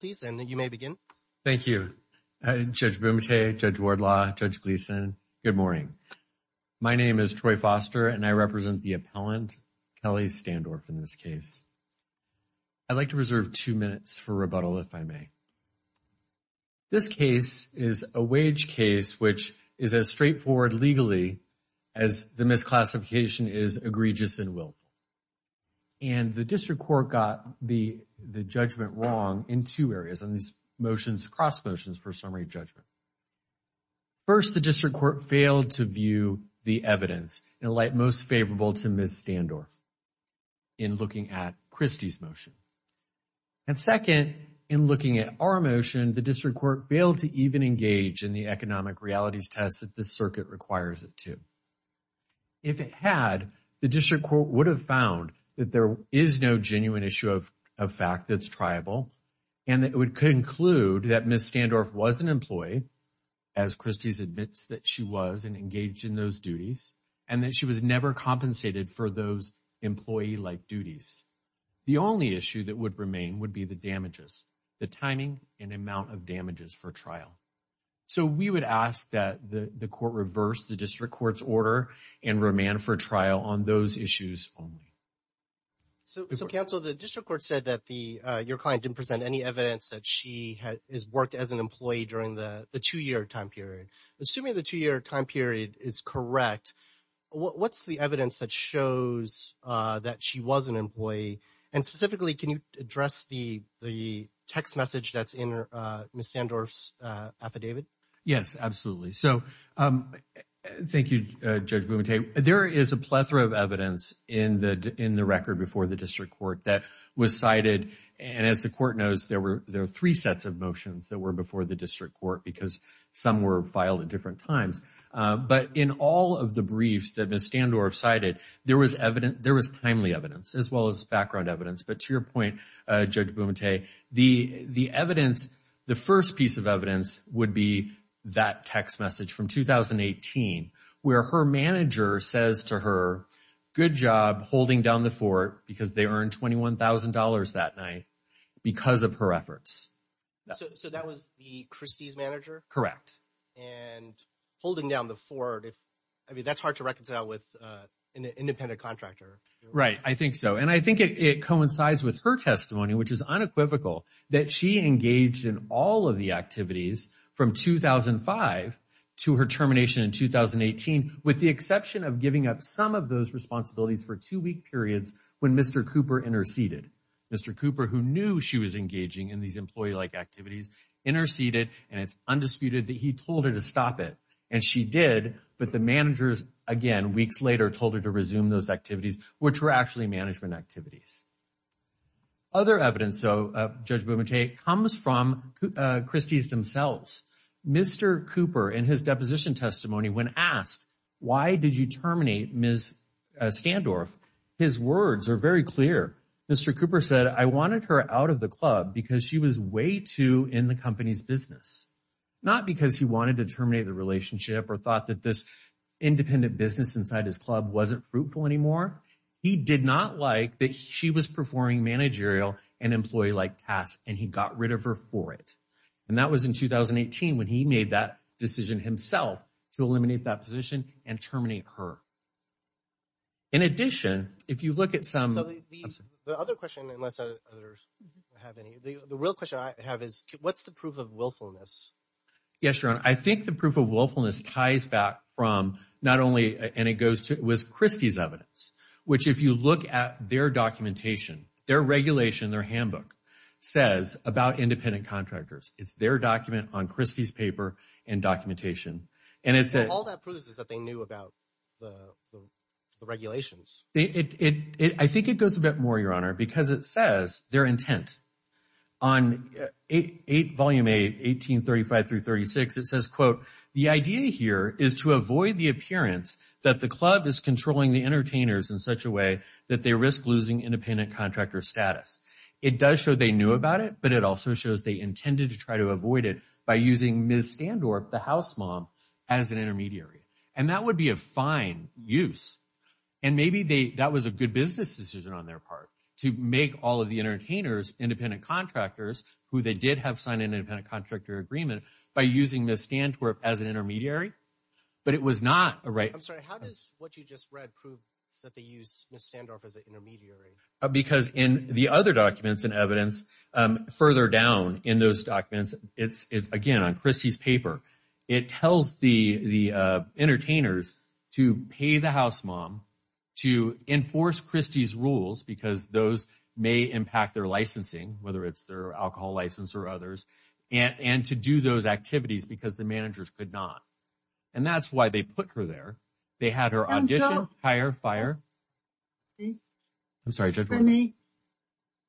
Thank you. Judge Bumate, Judge Wardlaw, Judge Gleeson, good morning. My name is Troy Foster and I represent the appellant, Kelly Standorf, in this case. I'd like to reserve two minutes for rebuttal, if I may. This case is a wage case which is as straightforward legally as the misclassification is egregious and willful. And the district court got the judgment wrong in two areas on these motions, cross motions for summary judgment. First, the district court failed to view the evidence in light most favorable to Ms. Standorf in looking at Christie's motion. And second, in looking at our motion, the district court failed to even engage in the economic realities test that the circuit requires it to. If it had, the district court would have found that there is no genuine issue of a fact that's triable. And it would conclude that Ms. Standorf was an employee as Christie's admits that she was and engaged in those duties and that she was never compensated for those employee like duties. The only issue that would remain would be the damages, the timing and amount of damages for trial. So we would ask that the court reverse the district court's order and remand for trial on those issues only. So counsel, the district court said that your client didn't present any evidence that she has worked as an employee during the two year time period. Assuming the two year time period is correct, what's the evidence that shows that she was an employee? And specifically, can you address the text message that's in Ms. Standorf's affidavit? Yes, absolutely. So thank you, Judge Bumate. There is a plethora of evidence in the record before the district court that was cited. And as the court knows, there were three sets of motions that were before the district court because some were filed at different times. But in all of the briefs that Ms. Standorf cited, there was evidence, there was timely evidence as well as background evidence. But to your point, Judge Bumate, the evidence, the first piece of evidence would be that text message from 2018 where her manager says to her, good job holding down the fort because they earned $21,000 that night because of her efforts. So that was the Christie's manager? Correct. And holding down the fort, I mean, that's hard to reconcile with an independent contractor. Right, I think so. And I think it coincides with her testimony, which is unequivocal, that she engaged in all of the activities from 2005 to her termination in 2018, with the exception of giving up some of those responsibilities for two week periods when Mr. Cooper interceded. Mr. Cooper, who knew she was engaging in these employee-like activities, interceded, and it's undisputed that he told her to stop it. And she did, but the managers, again, weeks later, told her to resume those activities, which were actually management activities. Other evidence, Judge Bumate, comes from Christie's themselves. Mr. Cooper, in his deposition testimony, when asked, why did you terminate Ms. Standorf, his words are very clear. Mr. Cooper said, I wanted her out of the club because she was way too in the company's business, not because he wanted to terminate the relationship or thought that this independent business inside his club wasn't fruitful anymore. He did not like that she was performing managerial and employee-like tasks, and he got rid of her for it. And that was in 2018 when he made that decision himself to eliminate that position and terminate her. In addition, if you look at some – So the other question, unless others have any – the real question I have is, what's the proof of willfulness? Yes, Your Honor, I think the proof of willfulness ties back from not only – and it goes to – it was Christie's evidence, which if you look at their documentation, their regulation, their handbook, says about independent contractors. It's their document on Christie's paper and documentation. And it says – All that proves is that they knew about the regulations. I think it goes a bit more, Your Honor, because it says their intent. On Volume 8, 1835-36, it says, quote, The idea here is to avoid the appearance that the club is controlling the entertainers in such a way that they risk losing independent contractor status. It does show they knew about it, but it also shows they intended to try to avoid it by using Ms. Standorf, the house mom, as an intermediary. And that would be a fine use. And maybe that was a good business decision on their part to make all of the entertainers independent contractors who they did have sign an independent contractor agreement by using Ms. Standorf as an intermediary. But it was not a right – I'm sorry, how does what you just read prove that they used Ms. Standorf as an intermediary? Because in the other documents and evidence further down in those documents, again, on Christie's paper, it tells the entertainers to pay the house mom to enforce Christie's rules because those may impact their licensing, whether it's their alcohol license or others, and to do those activities because the managers could not. And that's why they put her there. They had her audition, hire, fire. We're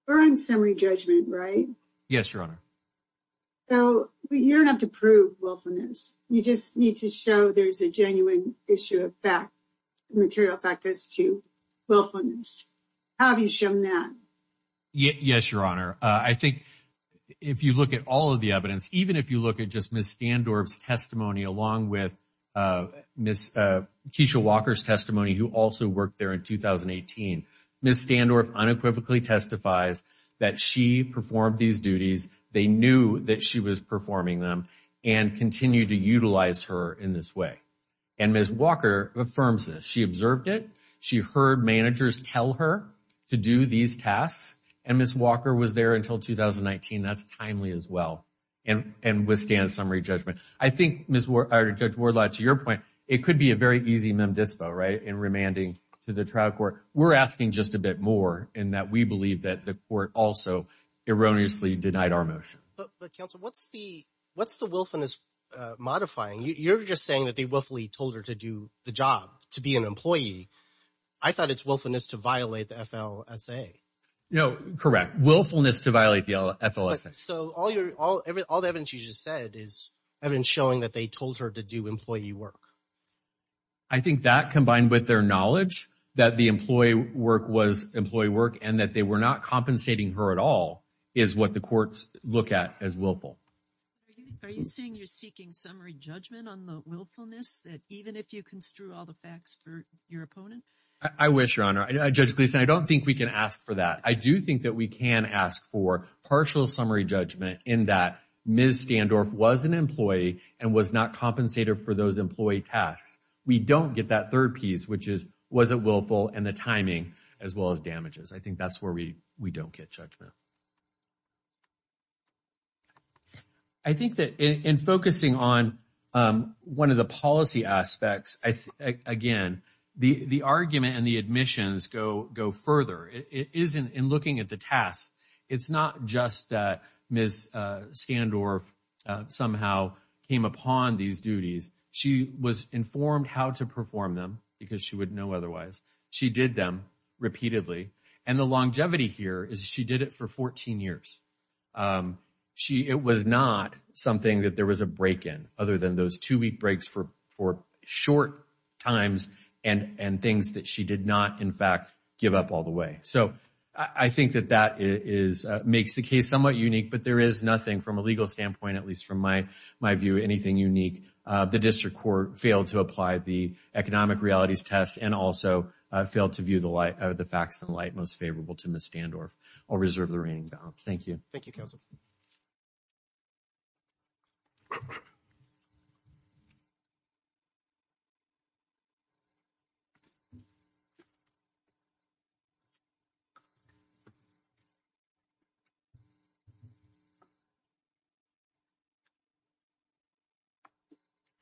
on summary judgment, right? Yes, Your Honor. So you don't have to prove willfulness. You just need to show there's a genuine issue of fact, material fact as to willfulness. How have you shown that? Yes, Your Honor. I think if you look at all of the evidence, even if you look at just Ms. Standorf's testimony, along with Keisha Walker's testimony, who also worked there in 2018, Ms. Standorf unequivocally testifies that she performed these duties. They knew that she was performing them and continued to utilize her in this way. And Ms. Walker affirms this. She observed it. She heard managers tell her to do these tasks. And Ms. Walker was there until 2019. That's timely as well and withstands summary judgment. I think, Judge Wardlaw, to your point, it could be a very easy mem dispo, right, in remanding to the trial court. We're asking just a bit more in that we believe that the court also erroneously denied our motion. But, counsel, what's the willfulness modifying? You're just saying that they willfully told her to do the job, to be an employee. I thought it's willfulness to violate the FLSA. Correct. Willfulness to violate the FLSA. So all the evidence you just said is evidence showing that they told her to do employee work. I think that, combined with their knowledge that the employee work was employee work and that they were not compensating her at all, is what the courts look at as willful. Are you saying you're seeking summary judgment on the willfulness that even if you construe all the facts for your opponent? I wish, Your Honor. Judge Gleeson, I don't think we can ask for that. I do think that we can ask for partial summary judgment in that Ms. Standorf was an employee and was not compensated for those employee tasks. We don't get that third piece, which is was it willful and the timing, as well as damages. I think that's where we don't get judgment. I think that in focusing on one of the policy aspects, again, the argument and the admissions go further. It is in looking at the tasks. It's not just that Ms. Standorf somehow came upon these duties. She was informed how to perform them because she would know otherwise. She did them repeatedly. And the longevity here is she did it for 14 years. It was not something that there was a break in other than those two-week breaks for short times and things that she did not, in fact, give up all the way. So I think that that makes the case somewhat unique, but there is nothing from a legal standpoint, at least from my view, anything unique. The district court failed to apply the economic realities test and also failed to view the facts in light most favorable to Ms. Standorf. I'll reserve the reigning balance. Thank you. Thank you, counsel.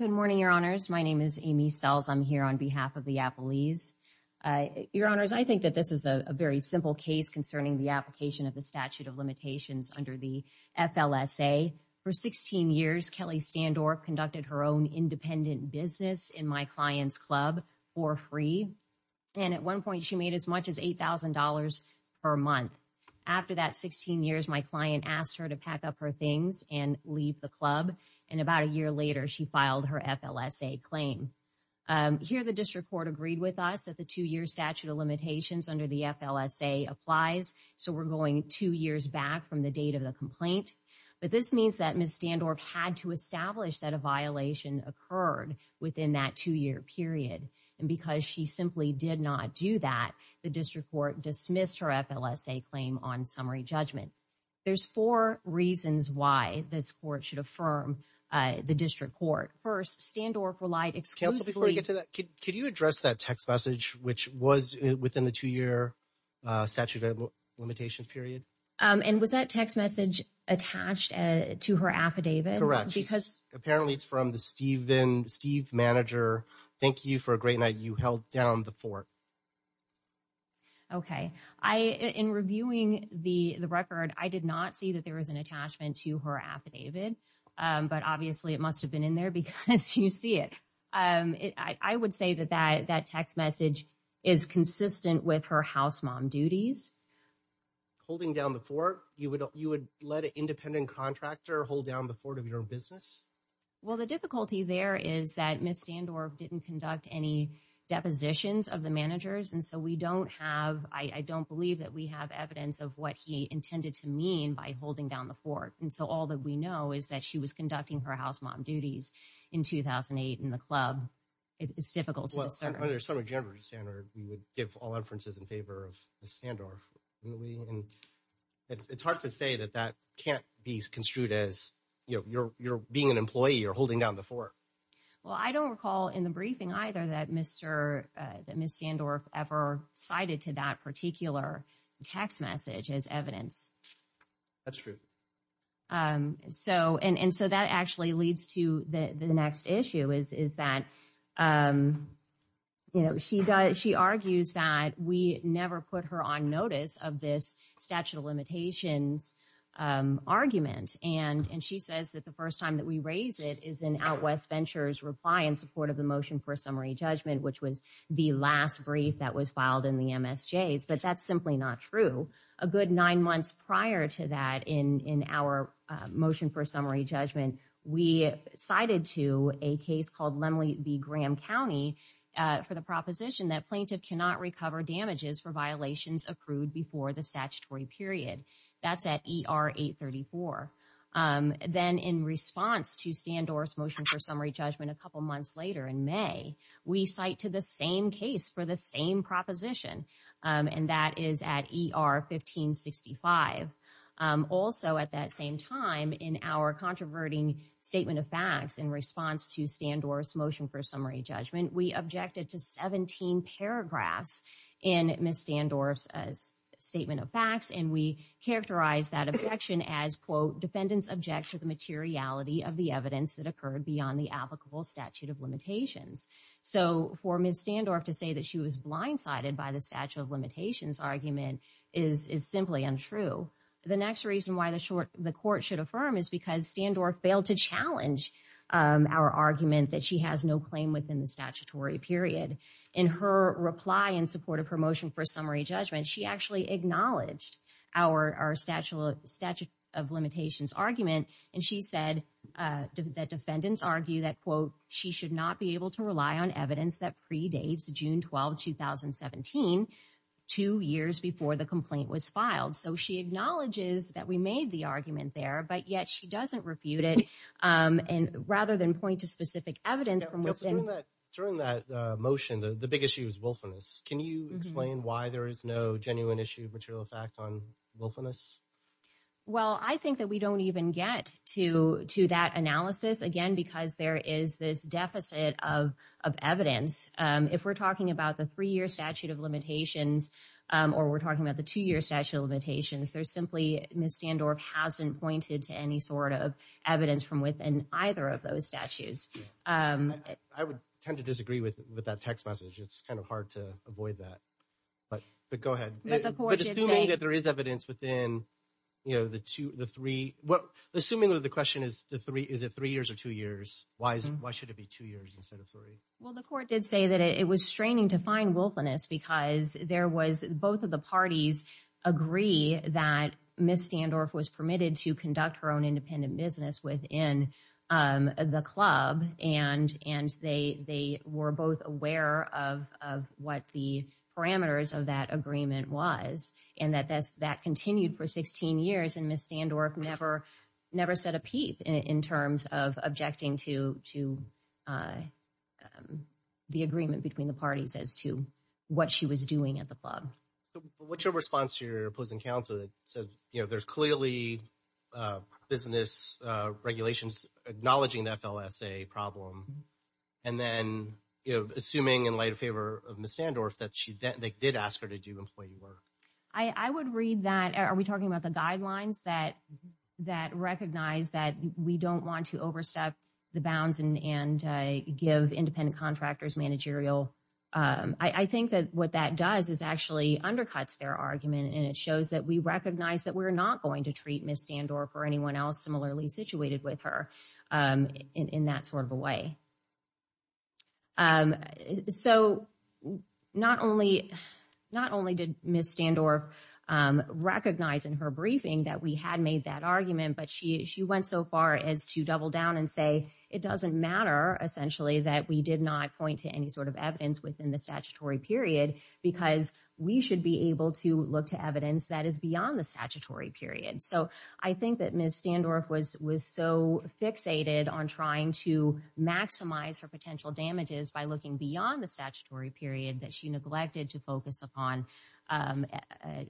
Good morning, Your Honors. My name is Amy Sells. I'm here on behalf of the Appalese. Your Honors, I think that this is a very simple case concerning the application of the statute of limitations under the FLSA. For 16 years, Kelly Standorf conducted her own independent business in my client's club for free. And at one point, she made as much as $8,000 per month. After that 16 years, my client asked her to pack up her things and leave the club. And about a year later, she filed her FLSA claim. Here, the district court agreed with us that the two-year statute of limitations under the FLSA applies. So we're going two years back from the date of the complaint. But this means that Ms. Standorf had to establish that a violation occurred within that two-year period. And because she simply did not do that, the district court dismissed her FLSA claim on summary judgment. There's four reasons why this court should affirm the district court. First, Standorf relied exclusively— Counsel, before we get to that, could you address that text message, which was within the two-year statute of limitations period? And was that text message attached to her affidavit? Correct. Apparently, it's from the Steve manager. Thank you for a great night. You held down the fort. Okay. In reviewing the record, I did not see that there was an attachment to her affidavit. But obviously, it must have been in there because you see it. I would say that that text message is consistent with her house mom duties. Holding down the fort, you would let an independent contractor hold down the fort of your own business? Well, the difficulty there is that Ms. Standorf didn't conduct any depositions of the managers. And so we don't have—I don't believe that we have evidence of what he intended to mean by holding down the fort. And so all that we know is that she was conducting her house mom duties in 2008 in the club. It's difficult to discern. Well, under the Summer of January standard, we would give all inferences in favor of Ms. Standorf. It's hard to say that that can't be construed as you're being an employee or holding down the fort. Well, I don't recall in the briefing either that Ms. Standorf ever cited to that particular text message as evidence. That's true. And so that actually leads to the next issue is that she argues that we never put her on notice of this statute of limitations argument. And she says that the first time that we raise it is in OutWest Ventures' reply in support of the motion for a summary judgment, which was the last brief that was filed in the MSJs. But that's simply not true. A good nine months prior to that, in our motion for summary judgment, we cited to a case called Lemley v. Graham County for the proposition that plaintiff cannot recover damages for violations accrued before the statutory period. That's at ER 834. Then in response to Standorf's motion for summary judgment a couple months later in May, we cite to the same case for the same proposition, and that is at ER 1565. Also at that same time in our controverting statement of facts in response to Standorf's motion for summary judgment, we objected to 17 paragraphs in Ms. Standorf's statement of facts, and we characterized that objection as, quote, defendants object to the materiality of the evidence that occurred beyond the applicable statute of limitations. So for Ms. Standorf to say that she was blindsided by the statute of limitations argument is simply untrue. The next reason why the court should affirm is because Standorf failed to challenge our argument that she has no claim within the statutory period. In her reply in support of her motion for summary judgment, she actually acknowledged our statute of limitations argument, and she said that defendants argue that, quote, she should not be able to rely on evidence that predates June 12, 2017, two years before the complaint was filed. So she acknowledges that we made the argument there, but yet she doesn't refute it. And rather than point to specific evidence from within- During that motion, the big issue is willfulness. Can you explain why there is no genuine issue of material effect on willfulness? Well, I think that we don't even get to that analysis, again, because there is this deficit of evidence. If we're talking about the three-year statute of limitations or we're talking about the two-year statute of limitations, there's simply- Ms. Standorf hasn't pointed to any sort of evidence from within either of those statutes. I would tend to disagree with that text message. It's kind of hard to avoid that. But go ahead. But the court did say- But assuming that there is evidence within, you know, the two, the three- Well, assuming that the question is, is it three years or two years? Why should it be two years instead of three? Well, the court did say that it was straining to find willfulness because there was- Both of the parties agree that Ms. Standorf was permitted to conduct her own independent business within the club. And they were both aware of what the parameters of that agreement was and that that continued for 16 years. And Ms. Standorf never said a peep in terms of objecting to the agreement between the parties as to what she was doing at the club. What's your response to your opposing counsel that said, you know, there's clearly business regulations acknowledging the FLSA problem. And then, you know, assuming in light of favor of Ms. Standorf that she did ask her to do employee work. I would read that- Are we talking about the guidelines that recognize that we don't want to overstep the bounds and give independent contractors managerial- I think that what that does is actually undercuts their argument. And it shows that we recognize that we're not going to treat Ms. Standorf or anyone else similarly situated with her in that sort of a way. So not only did Ms. Standorf recognize in her briefing that we had made that argument, but she went so far as to double down and say it doesn't matter, essentially, that we did not point to any sort of evidence within the statutory period because we should be able to look to evidence that is beyond the statutory period. So I think that Ms. Standorf was so fixated on trying to maximize her potential damages by looking beyond the statutory period that she neglected to focus upon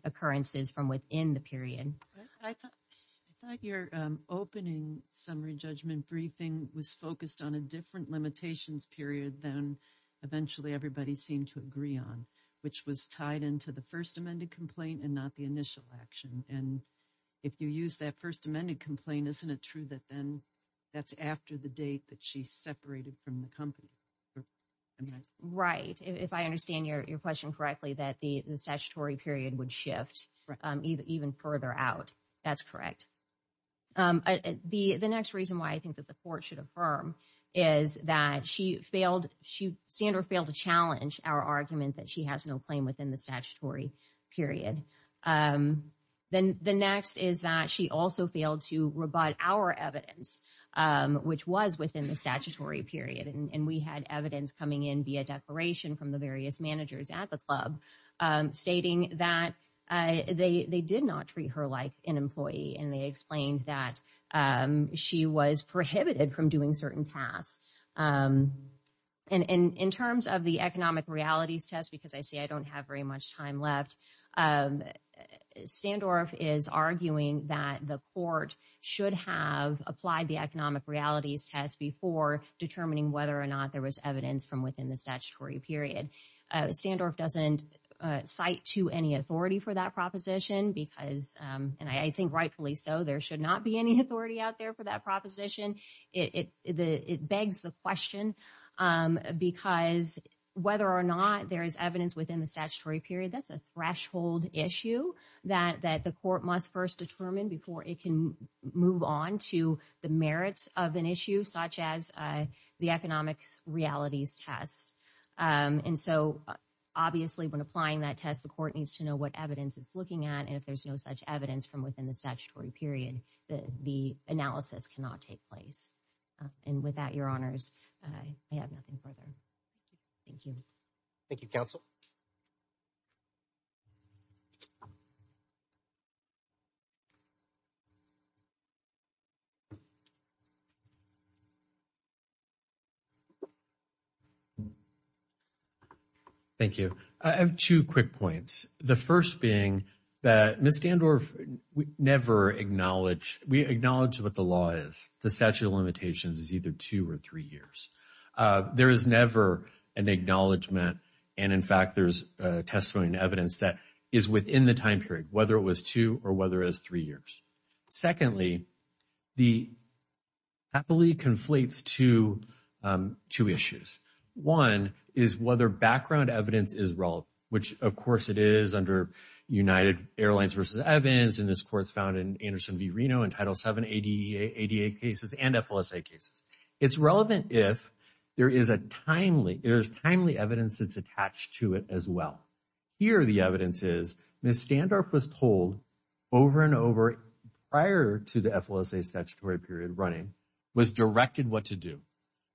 occurrences from within the period. I thought your opening summary judgment briefing was focused on a different limitations period than eventually everybody seemed to agree on, which was tied into the first amended complaint and not the initial action. And if you use that first amended complaint, isn't it true that then that's after the date that she separated from the company? Right. If I understand your question correctly, that the statutory period would shift even further out. That's correct. The next reason why I think that the court should affirm is that she failed. Standorf failed to challenge our argument that she has no claim within the statutory period. Then the next is that she also failed to rebut our evidence, which was within the statutory period. And we had evidence coming in via declaration from the various managers at the club stating that they did not treat her like an employee. And they explained that she was prohibited from doing certain tasks. And in terms of the economic realities test, because I see I don't have very much time left, Standorf is arguing that the court should have applied the economic realities test before determining whether or not there was evidence from within the statutory period. Standorf doesn't cite to any authority for that proposition because, and I think rightfully so, there should not be any authority out there for that proposition. It begs the question because whether or not there is evidence within the statutory period, that's a threshold issue that the court must first determine before it can move on to the merits of an issue such as the economic realities test. And so obviously when applying that test, the court needs to know what evidence it's looking at. And if there's no such evidence from within the statutory period, the analysis cannot take place. And with that, your honors, I have nothing further. Thank you. Thank you, counsel. Thank you. I have two quick points. The first being that Ms. Standorf never acknowledged, we acknowledge what the law is, the statute of limitations is either two or three years. There is never an acknowledgment. And in fact, there's testimony and evidence that is within the time period, whether it was two or whether it was three years. Secondly, the happily conflates to two issues. One is whether background evidence is wrong, which, of course, it is under United Airlines versus Evans. And this court's found in Anderson v. Reno in Title 7 ADA cases and FLSA cases. It's relevant if there is a timely there's timely evidence that's attached to it as well. Here, the evidence is Ms. Standorf was told over and over prior to the FLSA statutory period running was directed what to do.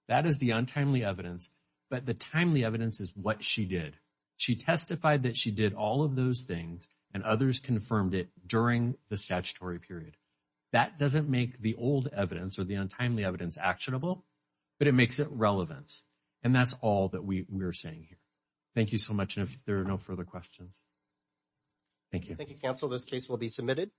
That is the untimely evidence. But the timely evidence is what she did. She testified that she did all of those things and others confirmed it during the statutory period. That doesn't make the old evidence or the untimely evidence actionable, but it makes it relevant. And that's all that we were saying here. Thank you so much. And if there are no further questions. Thank you. Thank you, counsel. This case will be submitted.